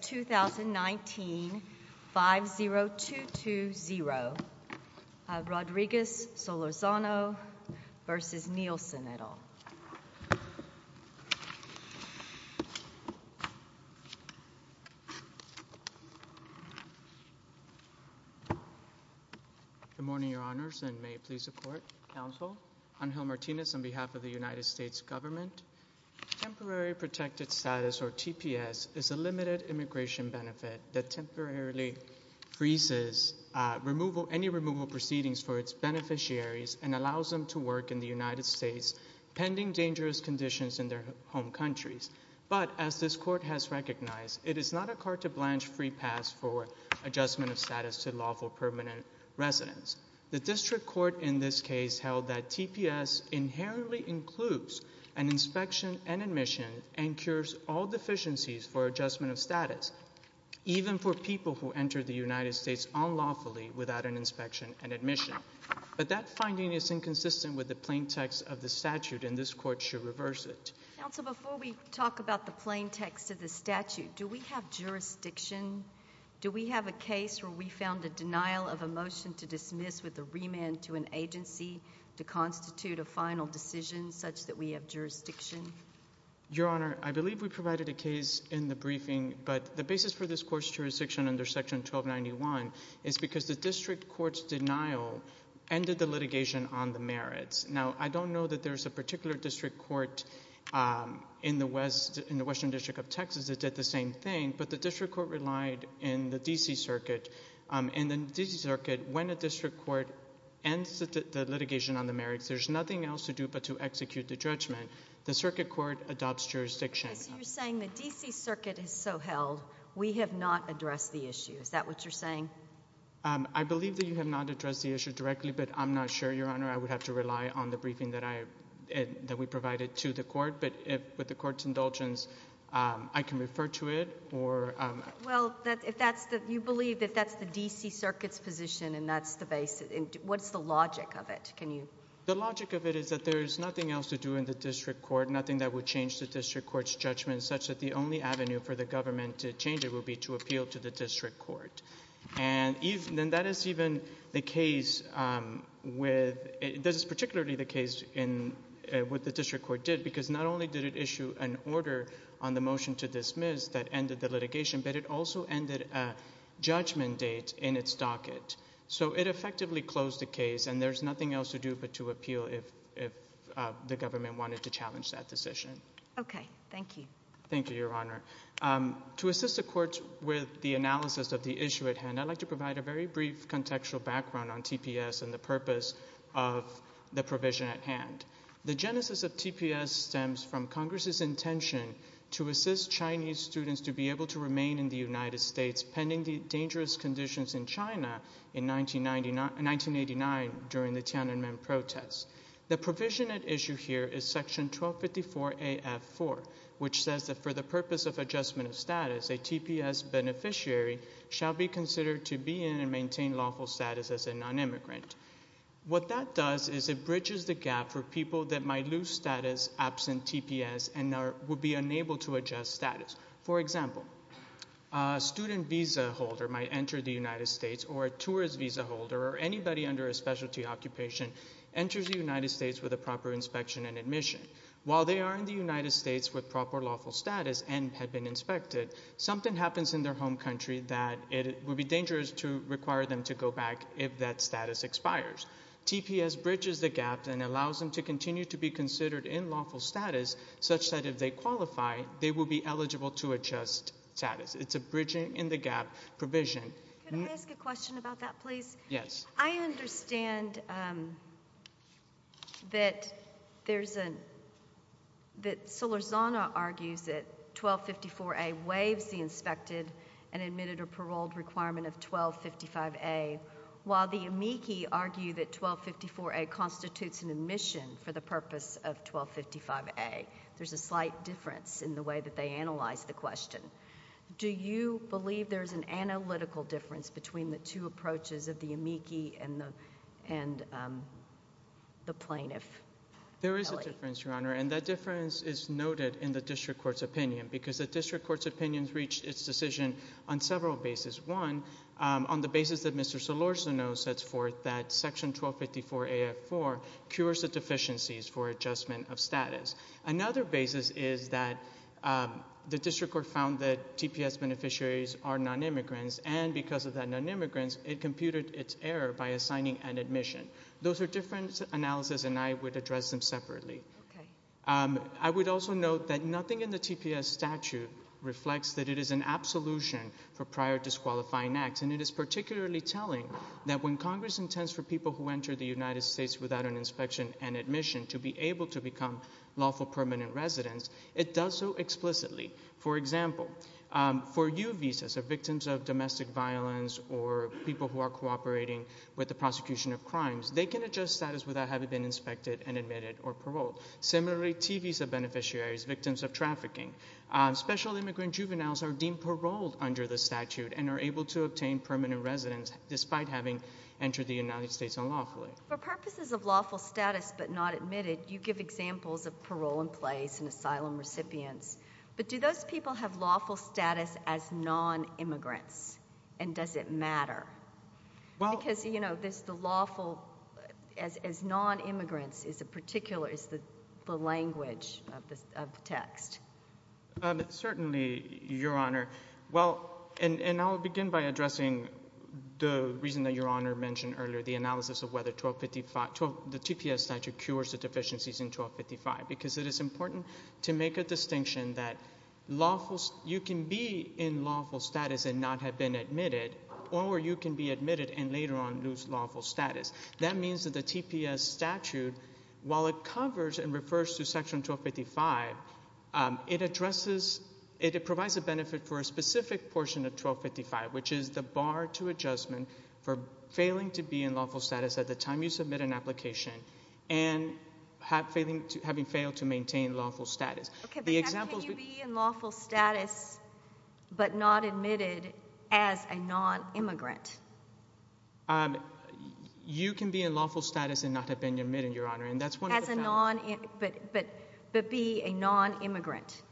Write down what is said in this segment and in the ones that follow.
2019 5-0-2-2-0. Rodriguez Solorzano v. Nielson, et al. Good morning, your honors, and may it please the court. Counsel. Angel Martinez on behalf of the United States government. Temporary protected status or immigration benefit that temporarily freezes removal, any removal proceedings for its beneficiaries and allows them to work in the United States pending dangerous conditions in their home countries. But as this court has recognized, it is not a card to blanch free pass for adjustment of status to lawful permanent residence. The district court in this case held that TPS inherently includes an inspection and admission and cures all deficiencies for adjustment of status, even for people who enter the United States unlawfully without an inspection and admission. But that finding is inconsistent with the plain text of the statute, and this court should reverse it. Counsel, before we talk about the plain text of the statute, do we have jurisdiction? Do we have a case where we found a denial of a motion to dismiss with the remand to an agency to constitute a final decision such that we have jurisdiction? Your honor, I appreciate your briefing, but the basis for this court's jurisdiction under section 1291 is because the district court's denial ended the litigation on the merits. Now, I don't know that there's a particular district court in the western district of Texas that did the same thing, but the district court relied in the D.C. circuit, and in the D.C. circuit, when a district court ends the litigation on the merits, there's nothing else to do but to execute the judgment. The circuit court adopts jurisdiction. So you're saying the D.C. circuit is so held, we have not addressed the issue. Is that what you're saying? I believe that you have not addressed the issue directly, but I'm not sure, your honor. I would have to rely on the briefing that we provided to the court, but with the court's indulgence, I can refer to it. Well, you believe that that's the D.C. circuit's position, and that's the basis. What's the logic of it? The logic of it is that there's nothing else to do in the district court, nothing that would change the district court's judgment, such that the only avenue for the government to change it would be to appeal to the district court. And that is even the case with, this is particularly the case in what the district court did, because not only did it issue an order on the motion to dismiss that ended the litigation, but it also ended a judgment date in its docket. So it effectively closed the case, and there's nothing else to do but to appeal if the government wanted to challenge that decision. Okay, thank you. Thank you, your honor. To assist the court with the analysis of the issue at hand, I'd like to provide a very brief contextual background on TPS and the purpose of the provision at hand. The genesis of TPS stems from Congress's intention to assist Chinese students to be able to remain in the United States pending the dangerous conditions in China in 1989 during the Tiananmen protests. The provision at issue here is section 1254 AF4, which says that for the purpose of adjustment of status, a TPS beneficiary shall be considered to be in and maintain lawful status as a non-immigrant. What that does is it bridges the gap for people that might lose status absent TPS and are, would be unable to adjust status. For example, a student visa holder might enter the United States, or a tourist visa holder, or anybody under a specialty occupation enters the United States with a proper inspection and admission. While they are in the United States with proper lawful status and have been inspected, something happens in their home country that it would be dangerous to require them to go back if that status expires. TPS bridges the gap and allows them to continue to be considered in lawful status such that if they qualify, they will be eligible to adjust status. It's a bridging in the gap provision. Can I ask a question about that please? Yes. I understand that there's a, that Solarzano argues that 1254A waives the inspected and admitted or paroled requirement of 1255A, while the amici argue that 1254A constitutes an admission for the purpose of 1255A. There's a slight difference in the way that they analyze the question. Do you believe there's an analytical difference between the two approaches of the amici and the plaintiff? There is a difference, Your Honor, and that difference is noted in the district court's opinion, because the district court's opinions reached its decision on several bases. One, on the basis that Mr. Solarzano sets forth that section 1254AF4 cures the deficiencies for adjustment of status. Another basis is that the district court found that TPS beneficiaries are non-immigrants, and because of that non-immigrants, it computed its error by assigning an admission. Those are different analysis and I would address them separately. I would also note that nothing in the TPS statute reflects that it is an absolution for prior disqualifying acts, and it is particularly telling that when Congress intends for people who enter the United States without an inspection and admission to be able to become lawful permanent residents, it does so explicitly. For example, for U visas of cooperating with the prosecution of crimes, they can adjust status without having been inspected and admitted or paroled. Similarly, T visa beneficiaries, victims of trafficking, special immigrant juveniles are deemed paroled under the statute and are able to obtain permanent residence despite having entered the United States unlawfully. For purposes of lawful status but not admitted, you give examples of parole in place and asylum recipients, but do those people have lawful status as non-immigrants, and does it matter? Because, you know, this, the lawful, as non-immigrants is a particular, is the language of the text. Certainly, Your Honor. Well, and I'll begin by addressing the reason that Your Honor mentioned earlier, the analysis of whether 1255, the TPS statute cures the deficiencies in 1255, because it is important to make a distinction that lawful, you can be in lawful status and not have been admitted, or you can be admitted and later on lose lawful status. That means that the TPS statute, while it covers and refers to Section 1255, it addresses, it provides a benefit for a specific portion of 1255, which is the bar to adjustment for failing to be in lawful status at the time you submit an application and having failed to be in lawful status but not admitted as a non-immigrant. You can be in lawful status and not have been admitted, Your Honor, and that's wonderful. As a non-immigrant, but be a non-immigrant.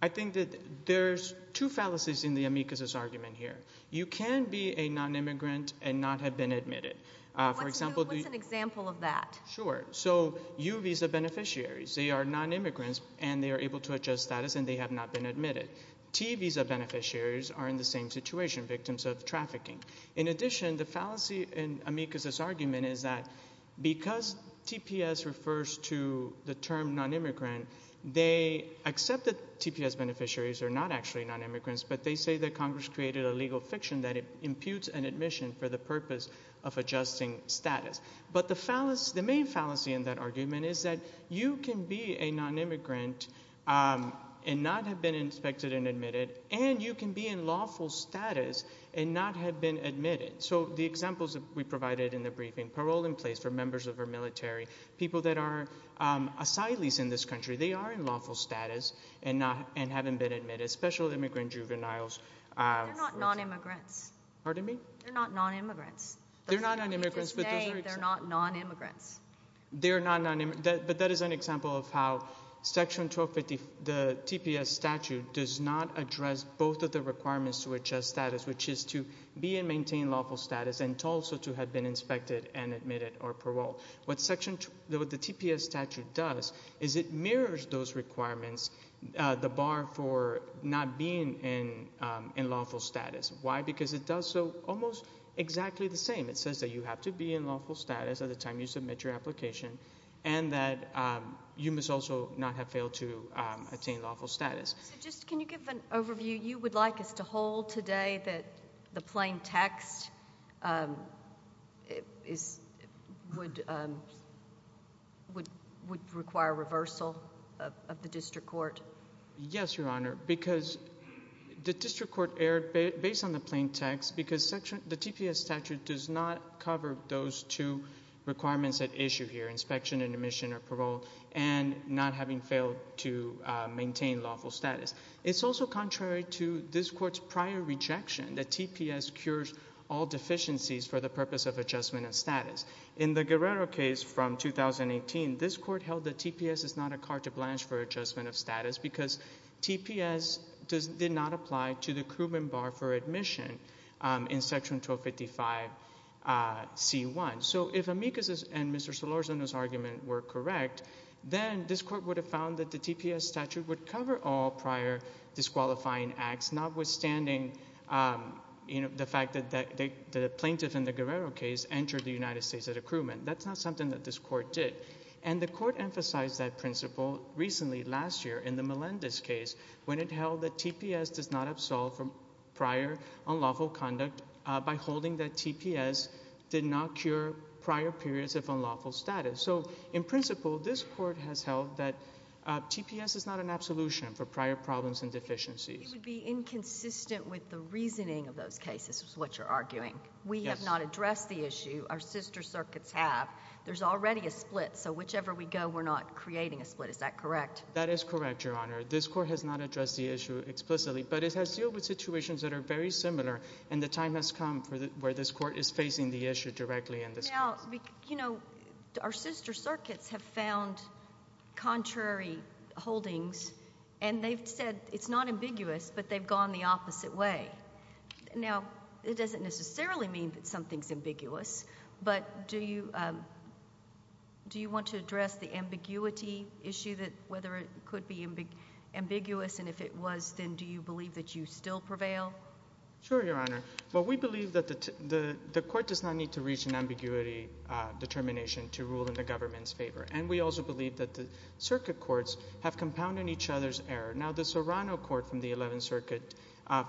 I think that there's two fallacies in the amicus's argument here. You can be a non-immigrant and not have been admitted. For example, what's an example of that? Sure, so you visa beneficiaries, they are non-immigrants and they are able to have been admitted. T visa beneficiaries are in the same situation, victims of trafficking. In addition, the fallacy in amicus's argument is that because TPS refers to the term non-immigrant, they accept that TPS beneficiaries are not actually non-immigrants, but they say that Congress created a legal fiction that imputes an admission for the purpose of adjusting status. But the main fallacy in that argument is that you can be a non-immigrant and not have been inspected and admitted, and you can be in lawful status and not have been admitted. So the examples that we provided in the briefing, parole in place for members of our military, people that are asylees in this country, they are in lawful status and haven't been admitted, especially immigrant juveniles. They're not non-immigrants. Pardon me? They're not non-immigrants. They're not non-immigrants, but that is an example of how Section 1250, the TPS statute, does not address both of the requirements to adjust status, which is to be and maintain lawful status and also to have been inspected and admitted or parole. What the TPS statute does is it mirrors those requirements, the bar for not being in lawful status. Why? Because it does so almost exactly the same. It says that you have to be in lawful status to get your application, and that you must also not have failed to attain lawful status. So just can you give an overview? You would like us to hold today that the plain text would require reversal of the district court? Yes, Your Honor, because the district court error, based on the plain text, because the TPS statute does not cover those two requirements at issue here, inspection and admission or parole, and not having failed to maintain lawful status. It's also contrary to this court's prior rejection that TPS cures all deficiencies for the purpose of adjustment of status. In the Guerrero case from 2018, this court held that TPS is not a carte blanche for adjustment of status because TPS did not apply to the accruement bar for admission in section 1255C1. So if Amicus and Mr. Solorzano's argument were correct, then this court would have found that the TPS statute would cover all prior disqualifying acts, notwithstanding the fact that the plaintiff in the Guerrero case entered the United States at accruement. That's not something that this court did. And the court emphasized that principle recently last year in the Melendez case when it held that TPS does not absolve from prior unlawful conduct by holding that TPS did not cure prior periods of unlawful status. So in principle, this court has held that TPS is not an absolution for prior problems and deficiencies. It would be inconsistent with the reasoning of those cases, is what you're arguing. Yes. We have not addressed the issue. Our sister circuits have. There's already a split. So whichever we go, we're not creating a split. Is that correct? That is correct, Your Honor. This court has not addressed the issue explicitly, but it has dealt with situations that are very similar, and the time has come where this court is facing the issue directly in this case. You know, our sister circuits have found contrary holdings, and they've said it's not ambiguous, but they've gone the opposite way. Now, it doesn't necessarily mean that something's ambiguity issue, whether it could be ambiguous, and if it was, then do you believe that you still prevail? Sure, Your Honor. Well, we believe that the court does not need to reach an ambiguity determination to rule in the government's favor, and we also believe that the circuit courts have compounded each other's error. Now, the Serrano court from the 11th Circuit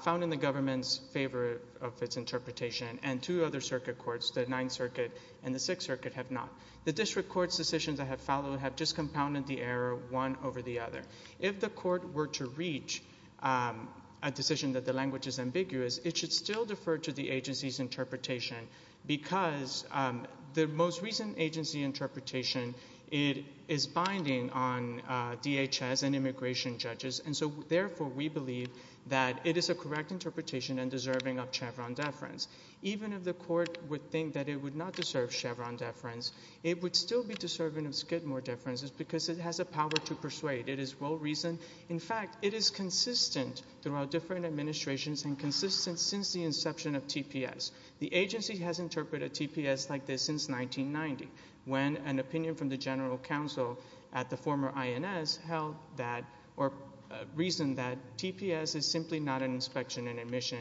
found in the government's favor of its interpretation, and two other circuit courts, the 9th Circuit and the 6th Circuit, have not. The district court's decisions that have followed have just compounded the error one over the other. If the court were to reach a decision that the language is ambiguous, it should still defer to the agency's interpretation, because the most recent agency interpretation, it is binding on DHS and immigration judges, and so therefore we believe that it is a correct interpretation and deserving of Chevron deference. Even if the court would think that it would not deserve Chevron deference, it would still be deserving of Skidmore deference, because it has a power to persuade. It is well-reasoned. In fact, it is consistent throughout different administrations and consistent since the inception of TPS. The agency has interpreted TPS like this since 1990, when an opinion from the general counsel at the former INS held that, or reasoned that, TPS is simply not an inspection and admission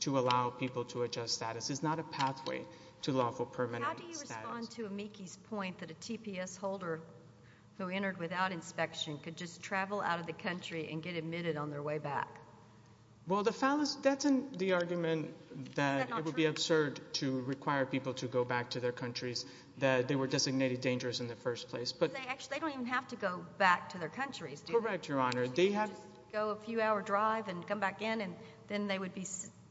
to allow people to adjust status. It is not a pathway to lawful permanent status. How do you respond to Amiki's point that a TPS holder who entered without inspection could just travel out of the country and get admitted on their way back? Well, that is the argument that it would be absurd to require people to go back to their countries, that they were designated dangerous in the first place. They don't even have to go back to their countries, do they? Correct, Your Honor. They can just go a few-hour drive and come back in, and then they would be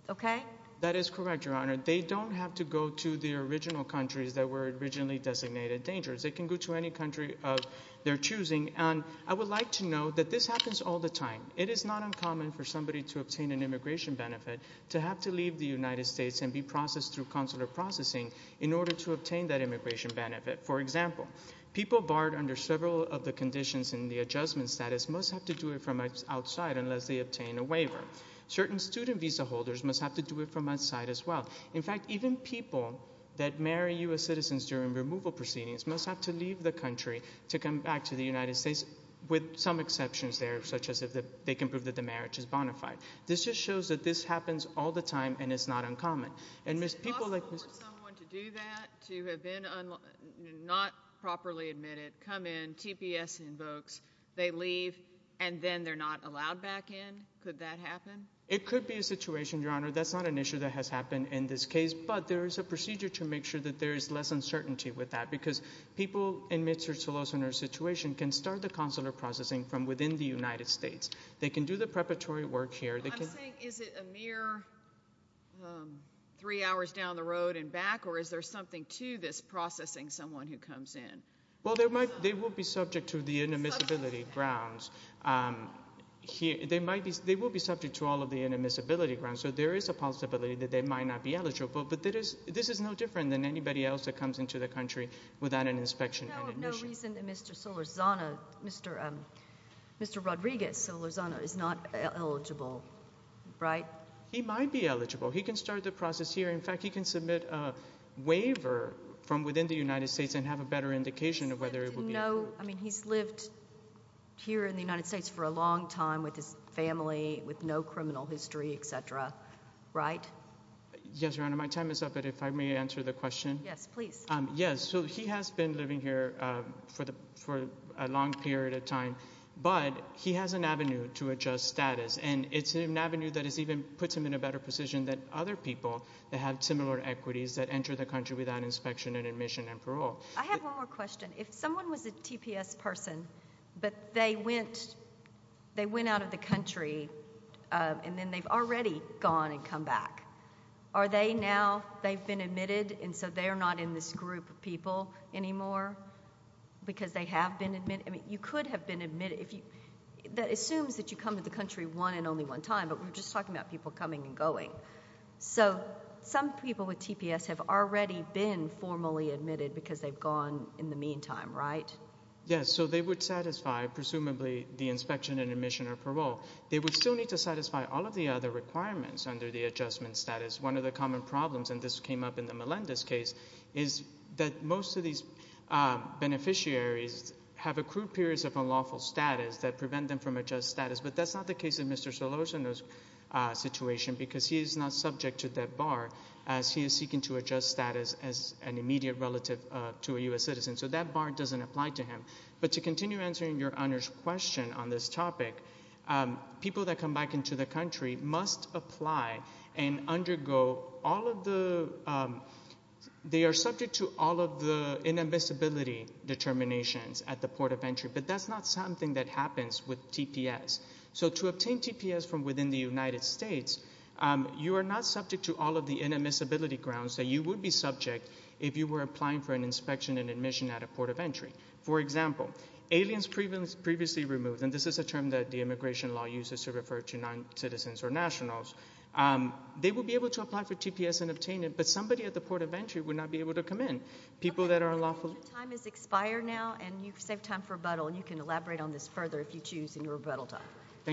okay? That is correct, Your Honor. They don't have to go to their original countries that were originally designated dangerous. They can go to any country of their choosing. And I would like to note that this happens all the time. It is not uncommon for somebody to obtain an immigration benefit to have to leave the United States and be processed through consular processing in order to obtain that immigration benefit. For example, people barred under several of the conditions in the adjustment status must have to do it from outside unless they obtain a waiver. Certain student visa holders must have to do it from outside as well. In fact, even people that marry U.S. citizens during removal proceedings must have to leave the country to come back to the United States with some exceptions there, such as if they can prove that the marriage is bona fide. This just shows that this happens all the time and it's not uncommon. Is it possible for someone to do that, to have been not properly admitted, come in, TPS invokes, they leave, and then they're not allowed back in? Could that happen? It could be a situation, Your Honor. That's not an issue that has happened in this case, but there is a procedure to make sure that there is less uncertainty with that because people in Mr. Solos and her situation can start the consular processing from within the United States. They can do the preparatory work here. I'm saying is it a mere three hours down the road and back, or is there something to this processing someone who comes in? Well, they will be subject to the inadmissibility grounds. They will be subject to all of the inadmissibility grounds, so there is a possibility that they might not be eligible, but this is no different than anybody else that comes into the country without an inspection and admission. But there is a reason that Mr. Solorzano, Mr. Rodriguez Solorzano is not eligible, right? He might be eligible. He can start the process here. In fact, he can submit a waiver from within the United States and have a better indication of whether it will be eligible. But to know, I mean, he's lived here in the United States for a long time with his family, with no criminal history, et cetera, right? Yes, Your Honor. My time is up, but if I may answer the question. Yes, please. Yes, so he has been living here for a long period of time, but he has an avenue to adjust status, and it's an avenue that has even put him in a better position than other people that have similar equities that enter the country without inspection and admission and parole. I have one more question. If someone was a TPS person, but they went out of the country and then they've already gone and come back, are they now, they've been admitted and so they're not in this group of people anymore because they have been admitted? I mean, you could have been admitted if you, that assumes that you come to the country one and only one time, but we're just talking about people coming and going. So some people with TPS have already been formally admitted because they've gone in the meantime, right? Yes, so they would satisfy, presumably, the inspection and admission or parole. They would still need to satisfy all of the other requirements under the adjustment status. One of the common problems, and this came up in the Melendez case, is that most of these beneficiaries have accrued periods of unlawful status that prevent them from adjust status, but that's not the case in Mr. Solorzano's situation because he is not subject to that bar as he is seeking to adjust status as an immediate relative to a U.S. citizen. So that bar doesn't apply to him. But to continue answering your Honor's question on this topic, people that come back into the country must apply and undergo all of the, they are subject to all of the inadmissibility determinations at the port of entry, but that's not something that happens with TPS. So to obtain TPS from within the United States, you are not subject to all of the inadmissibility grounds that you would be subject if you were applying for an inspection and admission at a port of entry. For example, aliens previously removed, and this is a term that the immigration law uses to refer to non-citizens or nationals. They would be able to apply for TPS and obtain it, but somebody at the port of entry would not be able to come in. People that are unlawful... Your time has expired now, and you've saved time for rebuttal, and you can elaborate on this further if you choose in your rebuttal time. Good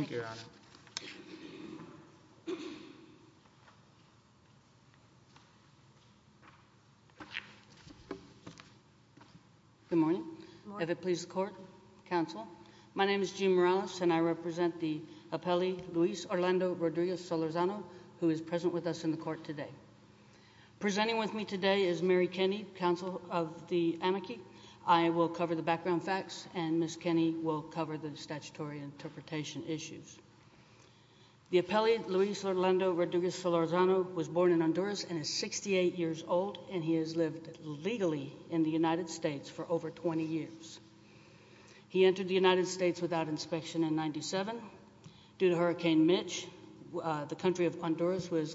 morning. Good morning. May it please the court, counsel. My name is Jim Morales, and I represent the appellee Luis Orlando Rodriguez-Solorzano, who is present with us in the court today. Presenting with me today is Mary Kenny, counsel of the amici. I will cover the background facts, and Ms. Kenny will cover the statutory interpretation issues. The appellee Luis Orlando Rodriguez-Solorzano was born in Honduras and is 68 years old, and he has lived legally in the United States for over 20 years. He entered the United States without inspection in 1997. Due to Hurricane Mitch, the country of Honduras was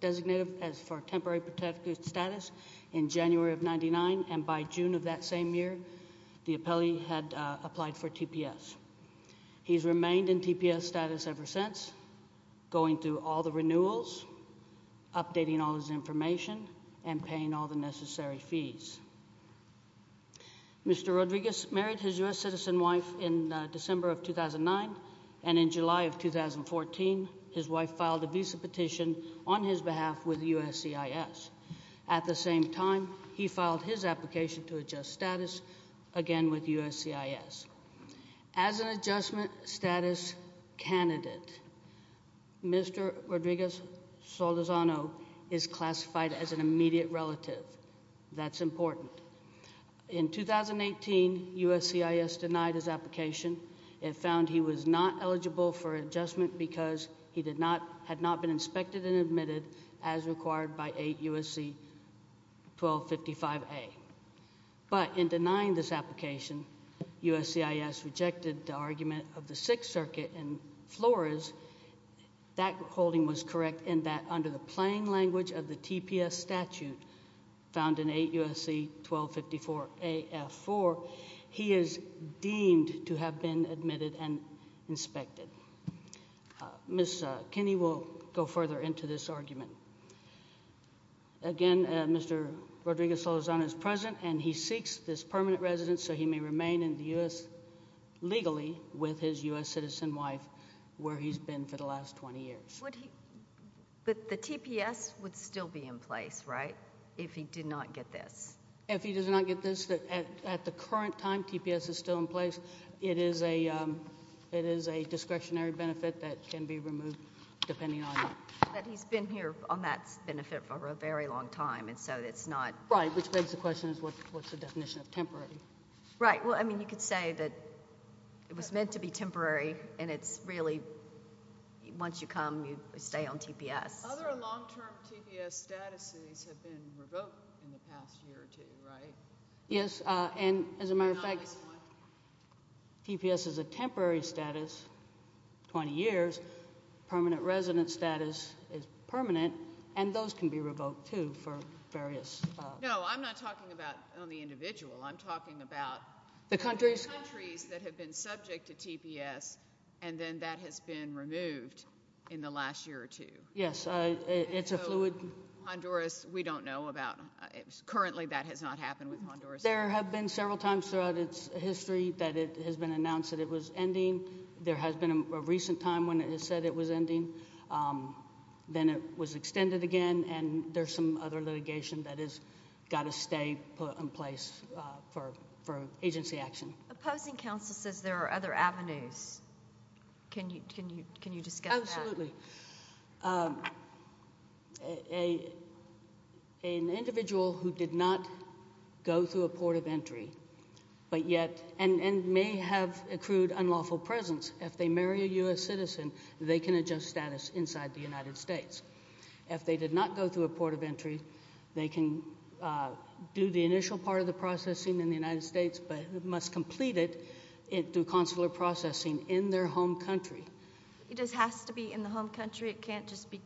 designated as for temporary protected status in January of 1999, and by June of that same year, the appellee had applied for TPS. He has remained in TPS status ever since, going through all the renewals, updating all his Mr. Rodriguez married his U.S. citizen wife in December of 2009, and in July of 2014, his wife filed a visa petition on his behalf with USCIS. At the same time, he filed his application to adjust status again with USCIS. As an adjustment status candidate, Mr. Rodriguez-Solorzano is classified as an immediate relative. That's important. In 2018, USCIS denied his application. It found he was not eligible for adjustment because he had not been inspected and admitted as required by 8 U.S.C. 1255A. But in denying this application, USCIS rejected the argument of the Sixth Circuit in Flores. That holding was correct in that under the plain language of the TPS statute found in 8 U.S.C. 1254A.F.4, he is deemed to have been admitted and inspected. Ms. Kinney will go further into this argument. Again, Mr. Rodriguez-Solorzano is present and he seeks this permanent residence so he may remain in the U.S. legally with his U.S. citizen wife where he's been for the last 20 years. But the TPS would still be in place, right, if he did not get this? If he does not get this, at the current time, TPS is still in place. It is a discretionary benefit that can be removed depending on it. But he's been here on that benefit for a very long time, and so it's not Right, which begs the question, what's the definition of temporary? Right, well, I mean, you could say that it was meant to be temporary, and it's really once you come, you stay on TPS. Other long-term TPS statuses have been revoked in the past year or two, right? Yes, and as a matter of fact, TPS is a temporary status, 20 years. Permanent residence status is permanent, and those can be revoked, too, for various No, I'm not talking about on the individual. I'm talking about The countries The countries that have been subject to TPS, and then that has been removed in the last year or two. Yes, it's a fluid Honduras, we don't know about. Currently, that has not happened with Honduras. There have been several times throughout its history that it has been announced that it was ending. There has been a recent time when it said it was ending. Then it was extended again, and there's some other litigation that has got to stay in place for agency action. Opposing counsel says there are other avenues. Can you discuss that? An individual who did not go through a port of entry, and may have accrued unlawful presence, if they marry a U.S. citizen, they can adjust status inside the United States. If they did not go through a port of entry, they can do the initial part of the processing in the United States, but must complete it through consular processing in their home country. It just has to be in the home country. It can't just be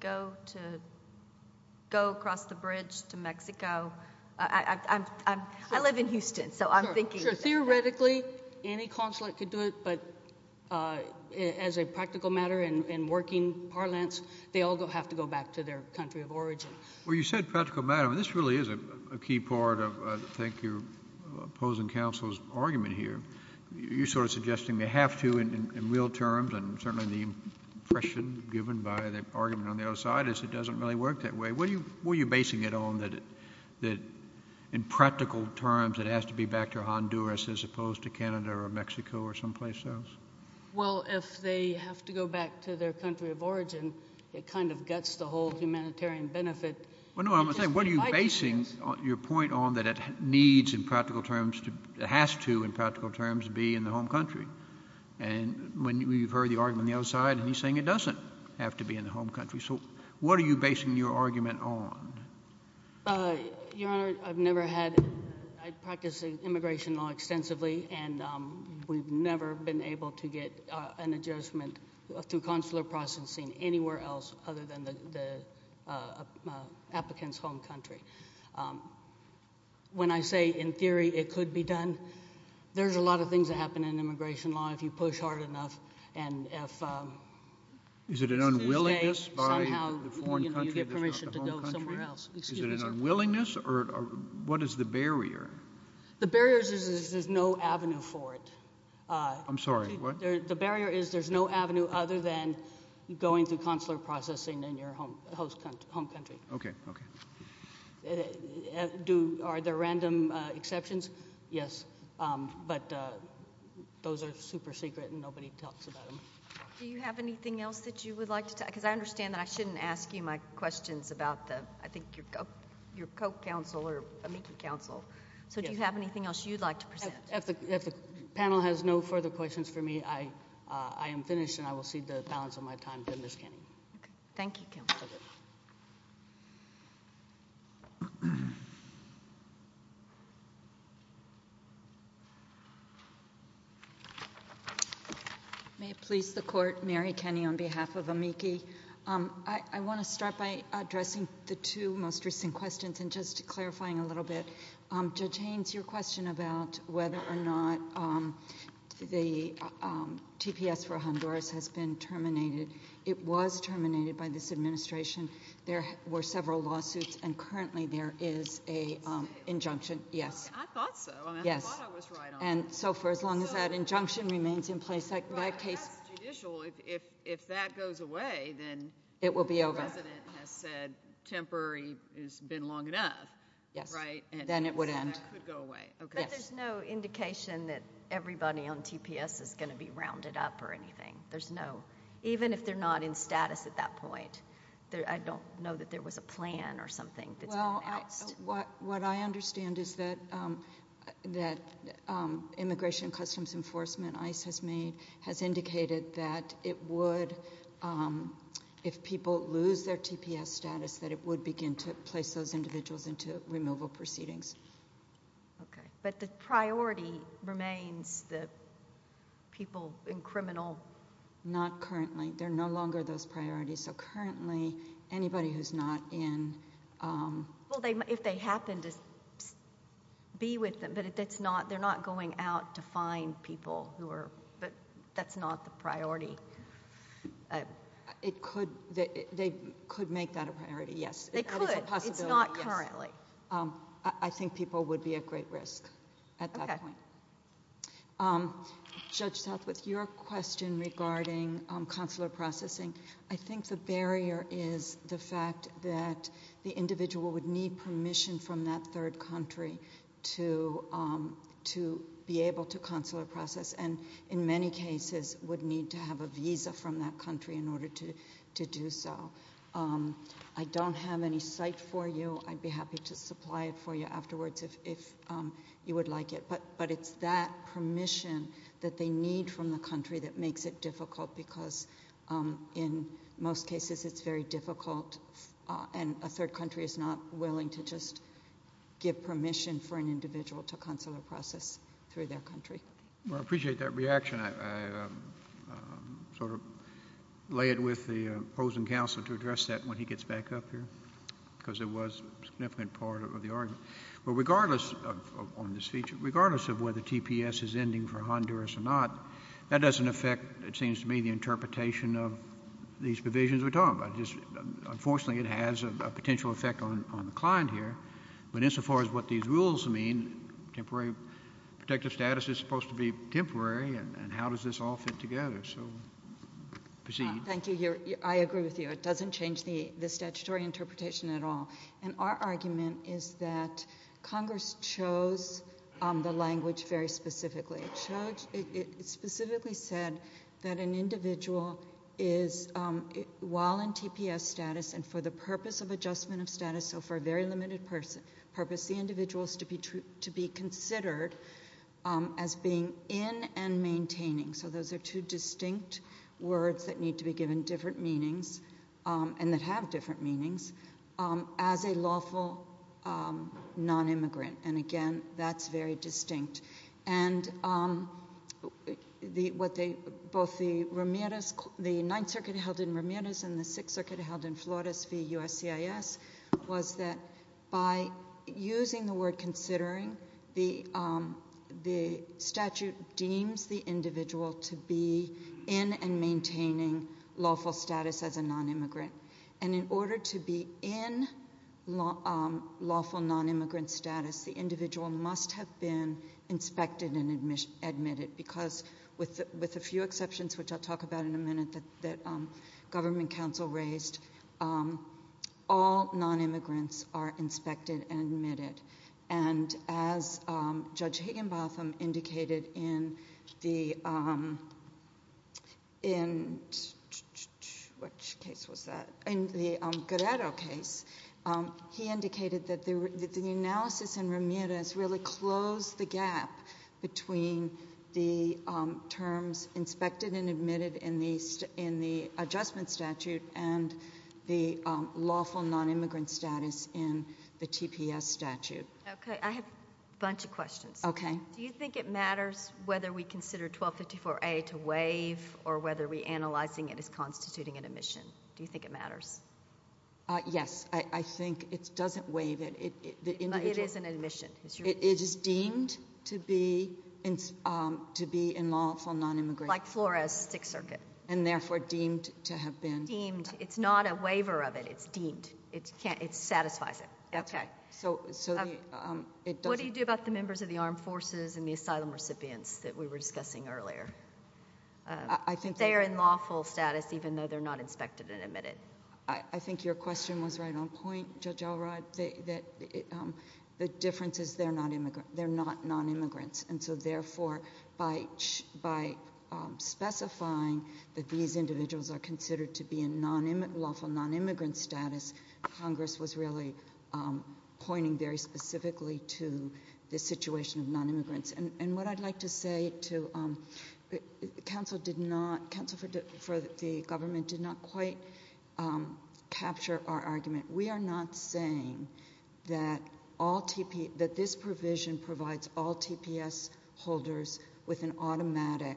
go across the bridge to Mexico. I live in Houston, so I'm thinking Theoretically, any consulate could do it, but as a practical matter in working parlance, they all have to go back to their country of origin. Well, you said practical matter. This really is a key part of, I think, your opposing counsel's You're sort of suggesting they have to in real terms, and certainly the impression given by the argument on the other side is it doesn't really work that way. What are you basing it on, that in practical terms it has to be back to Honduras as opposed to Canada or Mexico or someplace else? Well, if they have to go back to their country of origin, it kind of guts the whole humanitarian benefit. Well, no, I'm saying, what are you basing your point on that it needs in practical terms it has to in practical terms be in the home country? And you've heard the argument on the other side, and he's saying it doesn't have to be in the home country. So what are you basing your argument on? Your Honor, I've never had I practice immigration law extensively, and we've never been able to get an adjustment through consular processing anywhere else other than the applicant's home country. When I say in theory it could be done, there's a lot of things that happen in immigration law if you push hard enough and if Is it an unwillingness by the foreign country? Somehow you get permission to go somewhere else. Is it an unwillingness, or what is the barrier? The barrier is there's no avenue for it. I'm sorry, what? The barrier is there's no avenue other than going through consular processing in your home country. Okay, okay. Are there random exceptions? Yes, but those are super secret and nobody talks about them. Do you have anything else that you would like to, because I understand that I shouldn't ask you my questions about the, I think your co-counsel or a meeting council, so do you have anything else you'd like to present? If the panel has no further questions for me, I am finished and I will cede the balance of my time to Ms. Kenney. Thank you, Counselor. May it please the Court, Mary Kenney on behalf of AMICI. I want to start by addressing the two most recent questions and just clarifying a little bit. Judge Haynes, your question about whether or not the TPS for Honduras has been terminated, it was terminated by this administration. There were several lawsuits and currently there is an injunction. Yes. I thought so. Yes. I thought I was right on that. So for as long as that injunction remains in place, that case... That's judicial. If that goes away, then... It will be over... the resident has said temporary has been long enough. Yes. Right. Then it would end. That could go away. Yes. But there's no indication that everybody on TPS is going to be rounded up or anything. There's no... even if they're not in status at that point. I don't know that there was a plan or something that's been announced. Well, what I understand is that Immigration and Customs Enforcement, ICE has made, has indicated that it would, if people lose their TPS status, that it would begin to place those individuals into removal proceedings. Okay. But the priority remains the people in criminal... Not currently. They're no longer those priorities. So currently, anybody who's not in... Well, if they happen to be with them, but they're not going out to find people who are... But that's not the priority. It could. They could make that a priority, yes. They could. That is a possibility, yes. It's not currently. I think people would be at great risk at that point. Okay. Judge Southwith, your question regarding consular processing, I think the barrier is the fact that the individual would need permission from that third country to be able to consular process and, in many cases, would need to have a visa from that country in order to do so. I don't have any site for you. I'd be happy to supply it for you afterwards if you would like it. But it's that permission that they need from the country that makes it difficult because in most cases, it's very difficult, and a third country is not willing to just give permission for an individual to consular process through their country. Well, I appreciate that reaction. I sort of lay it with the opposing counsel to address that when he gets back up here because it was a significant part of the argument. But regardless of this feature, regardless of whether TPS is ending for Honduras or not, that doesn't affect, it seems to me, the interpretation of these provisions we're talking about. Unfortunately, it has a potential effect on the client here. But insofar as what these rules mean, temporary protective status is supposed to be temporary, and how does this all fit together? So proceed. Thank you. I agree with you. It doesn't change the statutory interpretation at all. And our argument is that Congress chose the language very specifically. It specifically said that an individual is, while in TPS status and for the purpose of adjustment of status, so for a very limited purpose, the individual is to be considered as being in and maintaining. So those are two distinct words that need to be given different meanings and that have different meanings as a lawful nonimmigrant. And, again, that's very distinct. And both the Ninth Circuit held in Ramirez and the Sixth Circuit held in Flores v. USCIS was that by using the word considering, the statute deems the individual to be in and maintaining lawful status as a nonimmigrant. And in order to be in lawful nonimmigrant status, the individual must have been inspected and admitted, because with a few exceptions, which I'll talk about in a minute, that government counsel raised, all nonimmigrants are inspected and admitted. And as Judge Higginbotham indicated in the Guerrero case, he indicated that the analysis in Ramirez really closed the gap between the terms inspected and admitted in the adjustment statute and the lawful nonimmigrant status in the TPS statute. Okay. I have a bunch of questions. Okay. Do you think it matters whether we consider 1254A to waive or whether reanalyzing it is constituting an admission? Do you think it matters? Yes. I think it doesn't waive it. It is an admission. It is deemed to be in lawful nonimmigrant status. Like Flores Sixth Circuit. And therefore deemed to have been. Deemed. It's not a waiver of it. It's deemed. It satisfies it. That's right. What do you do about the members of the armed forces and the asylum recipients that we were discussing earlier? They are in lawful status even though they're not inspected and admitted. I think your question was right on point, Judge Alrod. The difference is they're not nonimmigrants. And so, therefore, by specifying that these individuals are considered to be in lawful nonimmigrant status, Congress was really pointing very specifically to the situation of nonimmigrants. And what I'd like to say to counsel for the government did not quite capture our argument. We are not saying that this provision provides all TPS holders with an automatic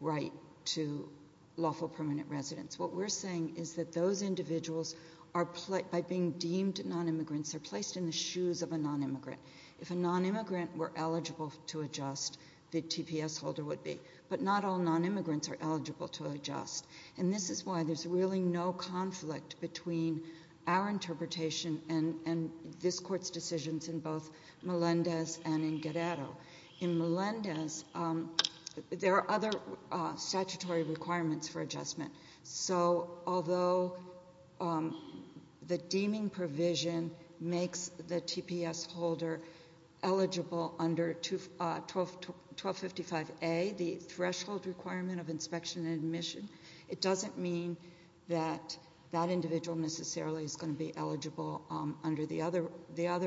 right to lawful permanent residence. What we're saying is that those individuals, by being deemed nonimmigrants, are placed in the shoes of a nonimmigrant. If a nonimmigrant were eligible to adjust, the TPS holder would be. But not all nonimmigrants are eligible to adjust. And this is why there's really no conflict between our interpretation and this Court's decisions in both Melendez and in Guerrero. In Melendez, there are other statutory requirements for adjustment. So although the deeming provision makes the TPS holder eligible under 1255A, the threshold requirement of inspection and admission, it doesn't mean that that individual necessarily is going to be eligible under the other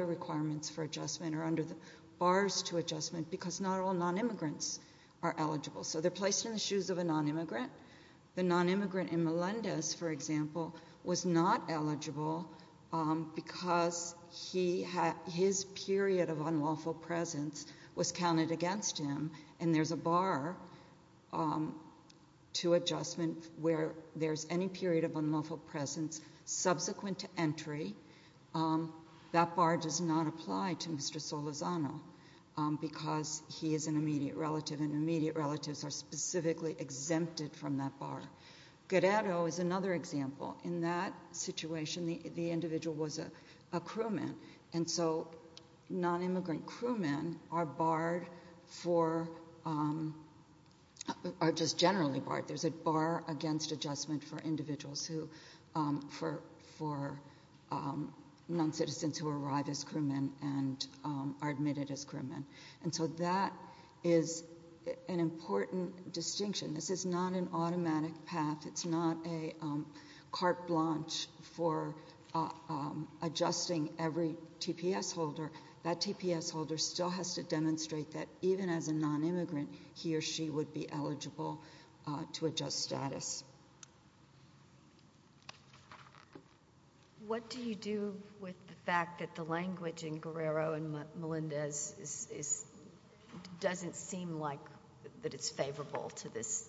requirements for adjustment or under the bars to adjustment because not all nonimmigrants are eligible. So they're placed in the shoes of a nonimmigrant. The nonimmigrant in Melendez, for example, was not eligible because his period of unlawful presence was counted against him. And there's a bar to adjustment where there's any period of unlawful presence subsequent to entry. That bar does not apply to Mr. Solazano because he is an immediate relative, and immediate relatives are specifically exempted from that bar. Guerrero is another example. In that situation, the individual was a crewman. And so nonimmigrant crewmen are barred for—are just generally barred. There's a bar against adjustment for individuals who—for noncitizens who arrive as crewmen and are admitted as crewmen. And so that is an important distinction. This is not an automatic path. It's not a carte blanche for adjusting every TPS holder. That TPS holder still has to demonstrate that even as a nonimmigrant, he or she would be eligible to adjust status. What do you do with the fact that the language in Guerrero and Melendez is—doesn't seem like that it's favorable to this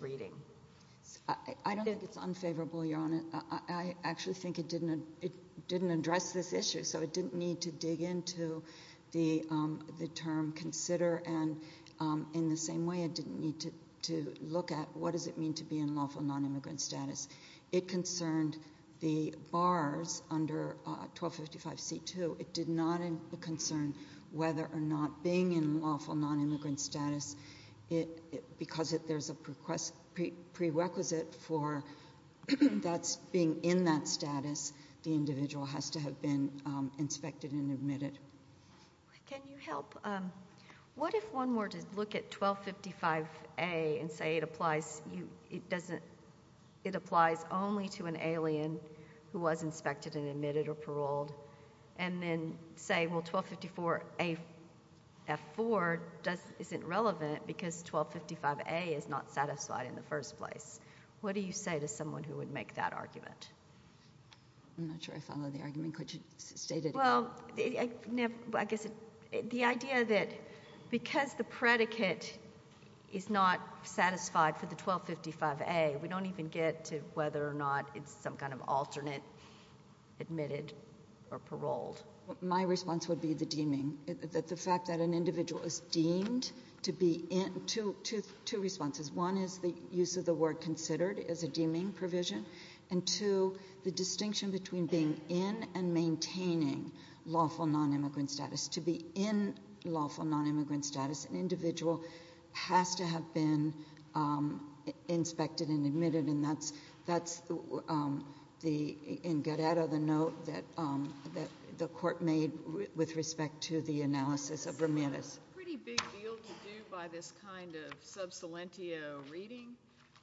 reading? I don't think it's unfavorable, Your Honor. I actually think it didn't address this issue, so it didn't need to dig into the term consider. And in the same way, it didn't need to look at what does it mean to be in lawful nonimmigrant status. It concerned the bars under 1255C2. It did not concern whether or not being in lawful nonimmigrant status, because there's a prerequisite for being in that status, the individual has to have been inspected and admitted. Can you help—what if one were to look at 1255A and say it applies—it doesn't—it applies only to an alien who was inspected and admitted or paroled, and then say, well, 1254AF4 doesn't—isn't relevant because 1255A is not satisfied in the first place? What do you say to someone who would make that argument? I'm not sure I follow the argument. Could you state it again? Well, I guess the idea that because the predicate is not satisfied for the 1255A, we don't even get to whether or not it's some kind of alternate admitted or paroled. My response would be the deeming. The fact that an individual is deemed to be in—two responses. One is the use of the word considered as a deeming provision, and two, the distinction between being in and maintaining lawful nonimmigrant status. To be in lawful nonimmigrant status, an individual has to have been inspected and admitted, and that's the—in Guerrero, the note that the Court made with respect to the analysis of remittance. That's a pretty big deal to do by this kind of sub salientio reading.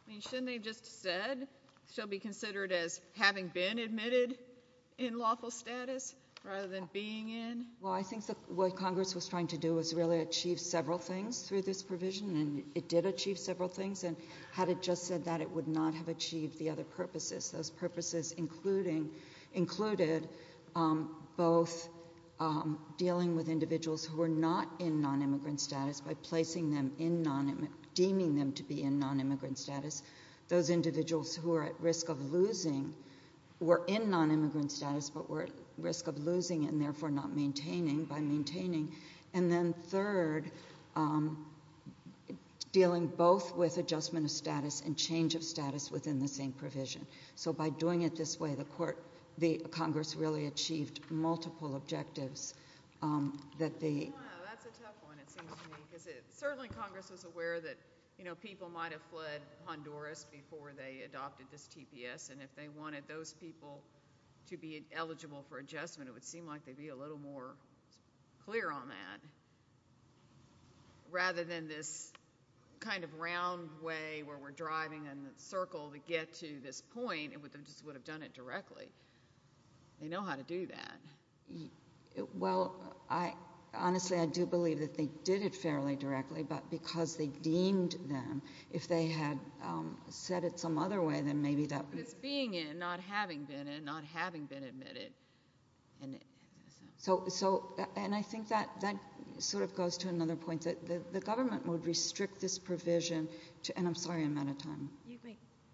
I mean, shouldn't they have just said she'll be considered as having been admitted in lawful status rather than being in? Well, I think what Congress was trying to do was really achieve several things through this provision, and it did achieve several things. And had it just said that, it would not have achieved the other purposes. Those purposes included both dealing with individuals who were not in nonimmigrant status by placing them in—deeming them to be in nonimmigrant status. Those individuals who were at risk of losing were in nonimmigrant status but were at risk of losing and therefore not maintaining by maintaining. And then third, dealing both with adjustment of status and change of status within the same provision. So by doing it this way, the Congress really achieved multiple objectives that the— And if they wanted those people to be eligible for adjustment, it would seem like they'd be a little more clear on that. Rather than this kind of round way where we're driving in a circle to get to this point, it just would have done it directly. They know how to do that. Well, I—honestly, I do believe that they did it fairly directly, but because they deemed them, if they had said it some other way, then maybe that— Because it's being in, not having been in, not having been admitted. So—and I think that sort of goes to another point. The government would restrict this provision to—and I'm sorry, I'm out of time.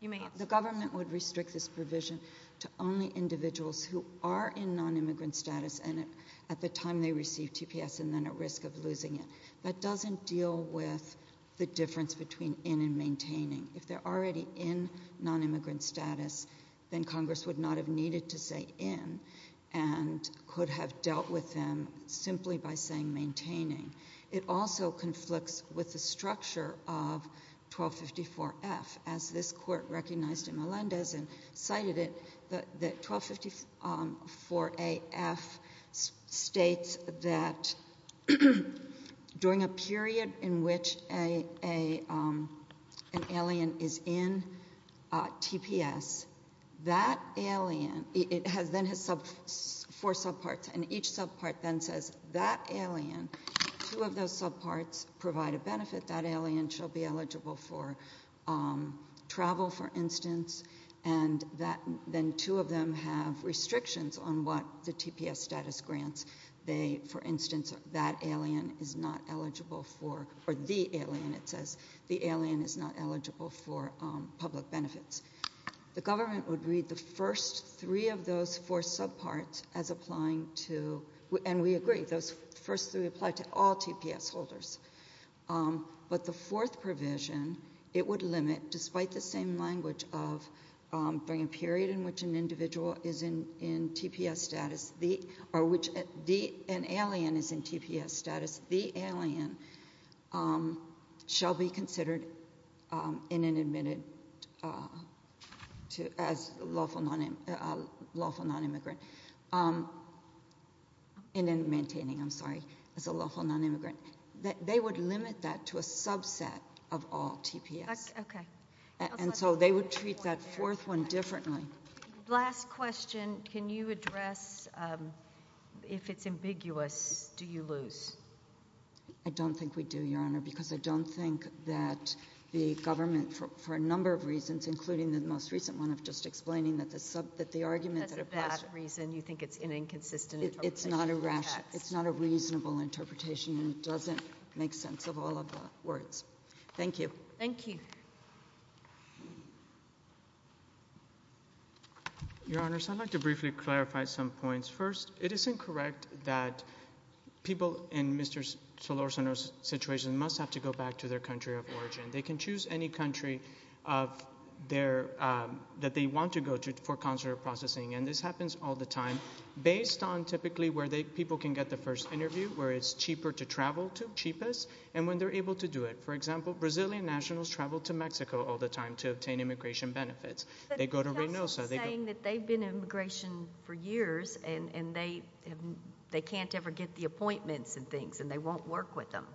You may answer. The government would restrict this provision to only individuals who are in nonimmigrant status and at the time they receive TPS and then at risk of losing it. That doesn't deal with the difference between in and maintaining. If they're already in nonimmigrant status, then Congress would not have needed to say in and could have dealt with them simply by saying maintaining. It also conflicts with the structure of 1254-F, as this court recognized in Melendez and cited it, that 1254-A-F states that during a period in which an alien is in TPS, that alien—it then has four subparts, and each subpart then says that alien, two of those subparts provide a benefit. That alien shall be eligible for travel, for instance, and then two of them have restrictions on what the TPS status grants. For instance, that alien is not eligible for—or the alien, it says, the alien is not eligible for public benefits. The government would read the first three of those four subparts as applying to—and we agree, those first three apply to all TPS holders. But the fourth provision, it would limit, despite the same language of during a period in which an individual is in TPS status, or which an alien is in TPS status, the alien shall be considered in and admitted as a lawful nonimmigrant—in and maintaining, I'm sorry, as a lawful nonimmigrant. They would limit that to a subset of all TPS. And so they would treat that fourth one differently. Last question, can you address if it's ambiguous, do you lose? I don't think we do, Your Honor, because I don't think that the government, for a number of reasons, including the most recent one of just explaining that the argument— Because of that reason, you think it's an inconsistent interpretation of the text. It's not a rational—it's not a reasonable interpretation, and it doesn't make sense of all of the words. Thank you. Thank you. Your Honors, I'd like to briefly clarify some points. First, it is incorrect that people in Mr. Solorzano's situation must have to go back to their country of origin. They can choose any country of their—that they want to go to for consular processing, and this happens all the time, based on typically where people can get the first interview, where it's cheaper to travel to, cheapest, and when they're able to do it. For example, Brazilian nationals travel to Mexico all the time to obtain immigration benefits. They go to Reynosa. But he's also saying that they've been in immigration for years, and they can't ever get the appointments and things, and they won't work with them.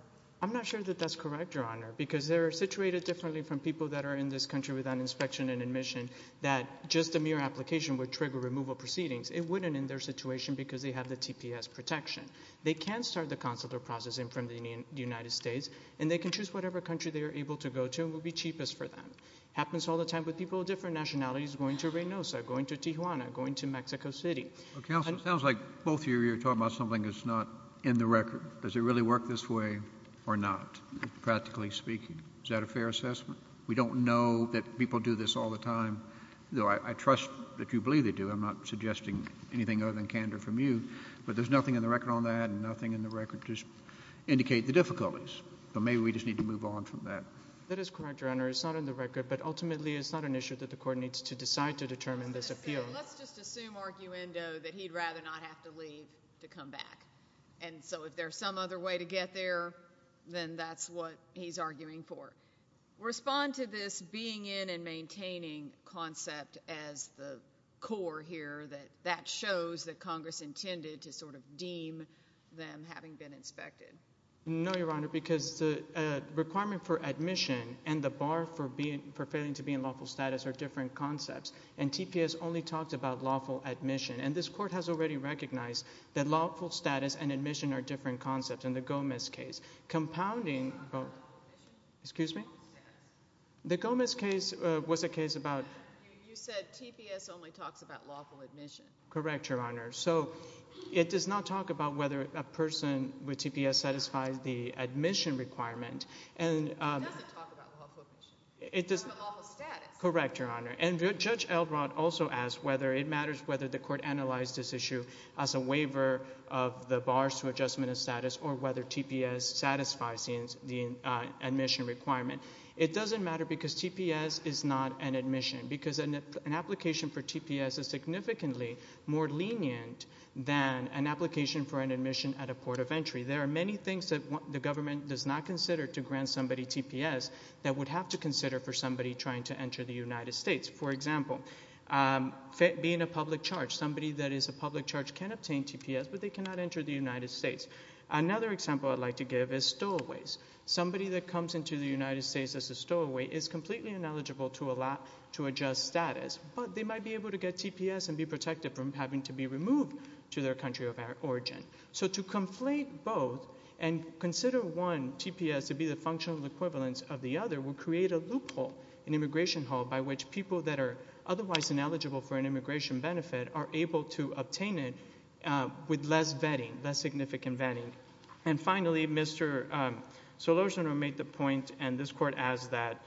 I'm not sure that that's correct, Your Honor, because they're situated differently from people that are in this country without inspection and admission that just a mere application would trigger removal proceedings. It wouldn't in their situation because they have the TPS protection. They can start the consular processing from the United States, and they can choose whatever country they are able to go to, and it will be cheapest for them. It happens all the time with people of different nationalities going to Reynosa, going to Tijuana, going to Mexico City. Counsel, it sounds like both of you are talking about something that's not in the record. Does it really work this way or not, practically speaking? Is that a fair assessment? We don't know that people do this all the time, though I trust that you believe they do. I'm not suggesting anything other than candor from you, but there's nothing in the record on that and nothing in the record to indicate the difficulties. So maybe we just need to move on from that. That is correct, Your Honor. It's not in the record, but ultimately it's not an issue that the court needs to decide to determine this appeal. Let's just assume arguendo that he'd rather not have to leave to come back. And so if there's some other way to get there, then that's what he's arguing for. Respond to this being in and maintaining concept as the core here that that shows that Congress intended to sort of deem them having been inspected. No, Your Honor, because the requirement for admission and the bar for failing to be in lawful status are different concepts, and TPS only talks about lawful admission. And this court has already recognized that lawful status and admission are different concepts in the Gomez case, compounding both. Excuse me? The Gomez case was a case about – You said TPS only talks about lawful admission. Correct, Your Honor. So it does not talk about whether a person with TPS satisfies the admission requirement. It doesn't talk about lawful admission. It does talk about lawful status. Correct, Your Honor. And Judge Elrod also asked whether it matters whether the court analyzed this issue as a waiver of the bars to adjustment of status or whether TPS satisfies the admission requirement. It doesn't matter because TPS is not an admission because an application for TPS is significantly more lenient than an application for an admission at a port of entry. There are many things that the government does not consider to grant somebody TPS that would have to consider for somebody trying to enter the United States. For example, being a public charge, somebody that is a public charge can obtain TPS, but they cannot enter the United States. Another example I'd like to give is stowaways. Somebody that comes into the United States as a stowaway is completely ineligible to adjust status, but they might be able to get TPS and be protected from having to be removed to their country of origin. So to conflate both and consider one, TPS, to be the functional equivalence of the other would create a loophole, an immigration hole, by which people that are otherwise ineligible for an immigration benefit are able to obtain it with less vetting, less significant vetting. And finally, Mr. Solorzano made the point, and this Court asked that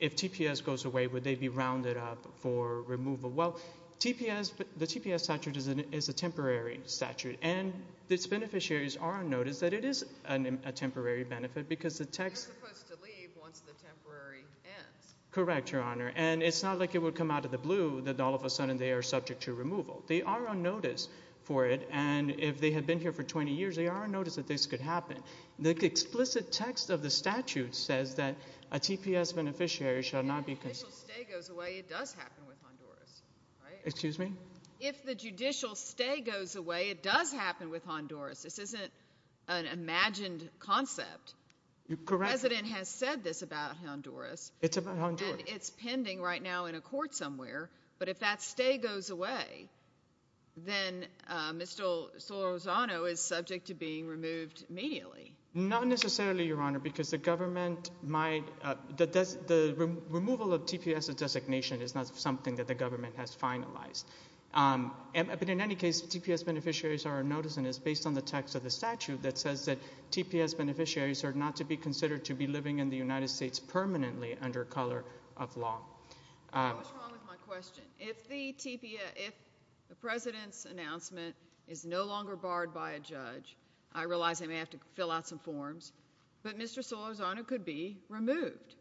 if TPS goes away, would they be rounded up for removal? Well, the TPS statute is a temporary statute, and its beneficiaries are on notice that it is a temporary benefit because the text – They're supposed to leave once the temporary ends. Correct, Your Honor, and it's not like it would come out of the blue that all of a sudden they are subject to removal. They are on notice for it, and if they had been here for 20 years, they are on notice that this could happen. The explicit text of the statute says that a TPS beneficiary shall not be – If the judicial stay goes away, it does happen with Honduras, right? Excuse me? If the judicial stay goes away, it does happen with Honduras. This isn't an imagined concept. You're correct. The President has said this about Honduras. It's about Honduras. And it's pending right now in a court somewhere, but if that stay goes away, then Mr. Solorzano is subject to being removed immediately. Not necessarily, Your Honor, because the government might – the removal of TPS designation is not something that the government has finalized. But in any case, TPS beneficiaries are on notice and it's based on the text of the statute that says that TPS beneficiaries are not to be considered to be living in the United States permanently under color of law. What's wrong with my question? If the President's announcement is no longer barred by a judge, I realize I may have to fill out some forms, but Mr. Solorzano could be removed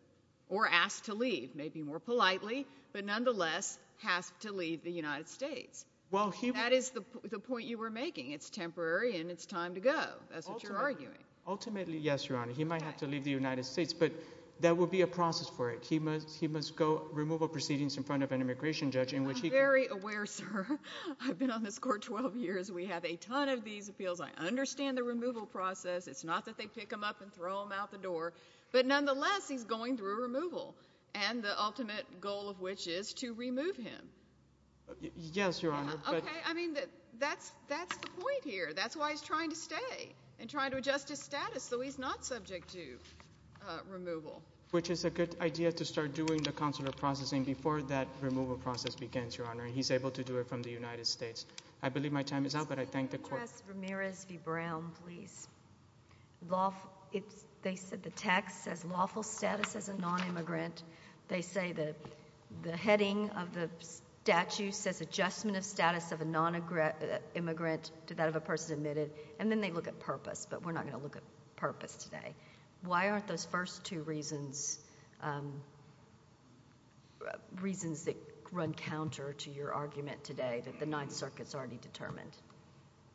or asked to leave, maybe more politely, but nonetheless has to leave the United States. That is the point you were making. It's temporary and it's time to go. That's what you're arguing. Ultimately, yes, Your Honor. He might have to leave the United States, but there will be a process for it. He must go remove a proceedings in front of an immigration judge in which he can – I'm very aware, sir. I've been on this court 12 years. We have a ton of these appeals. I understand the removal process. It's not that they pick him up and throw him out the door, but nonetheless, he's going through a removal. And the ultimate goal of which is to remove him. Yes, Your Honor. Okay. I mean, that's the point here. That's why he's trying to stay and trying to adjust his status so he's not subject to removal. Which is a good idea to start doing the consular processing before that removal process begins, Your Honor, and he's able to do it from the United States. I believe my time is up, but I thank the court. Can I ask Ramirez v. Brown, please? They said the text says lawful status as a nonimmigrant. They say the heading of the statute says adjustment of status of a nonimmigrant to that of a person admitted. And then they look at purpose, but we're not going to look at purpose today. Why aren't those first two reasons reasons that run counter to your argument today that the Ninth Circuit has already determined?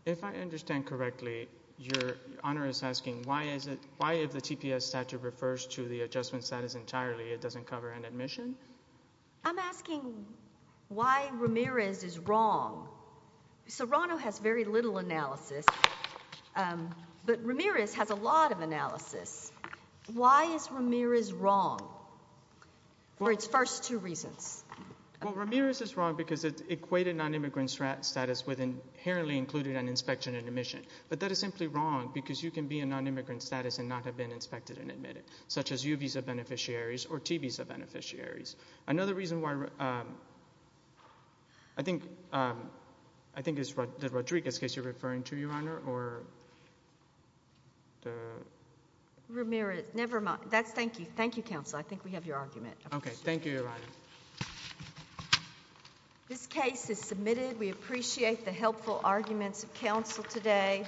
If I understand correctly, Your Honor is asking why if the TPS statute refers to the adjustment status entirely, it doesn't cover an admission? I'm asking why Ramirez is wrong. Serrano has very little analysis, but Ramirez has a lot of analysis. Why is Ramirez wrong for its first two reasons? Well, Ramirez is wrong because it's equated nonimmigrant status with inherently included an inspection and admission. But that is simply wrong because you can be a nonimmigrant status and not have been inspected and admitted, such as U visa beneficiaries or T visa beneficiaries. Another reason why I think it's the Rodriguez case you're referring to, Your Honor, or the— Ramirez, never mind. Thank you. Thank you, counsel. I think we have your argument. Okay. Thank you, Your Honor. This case is submitted. We appreciate the helpful arguments of counsel today.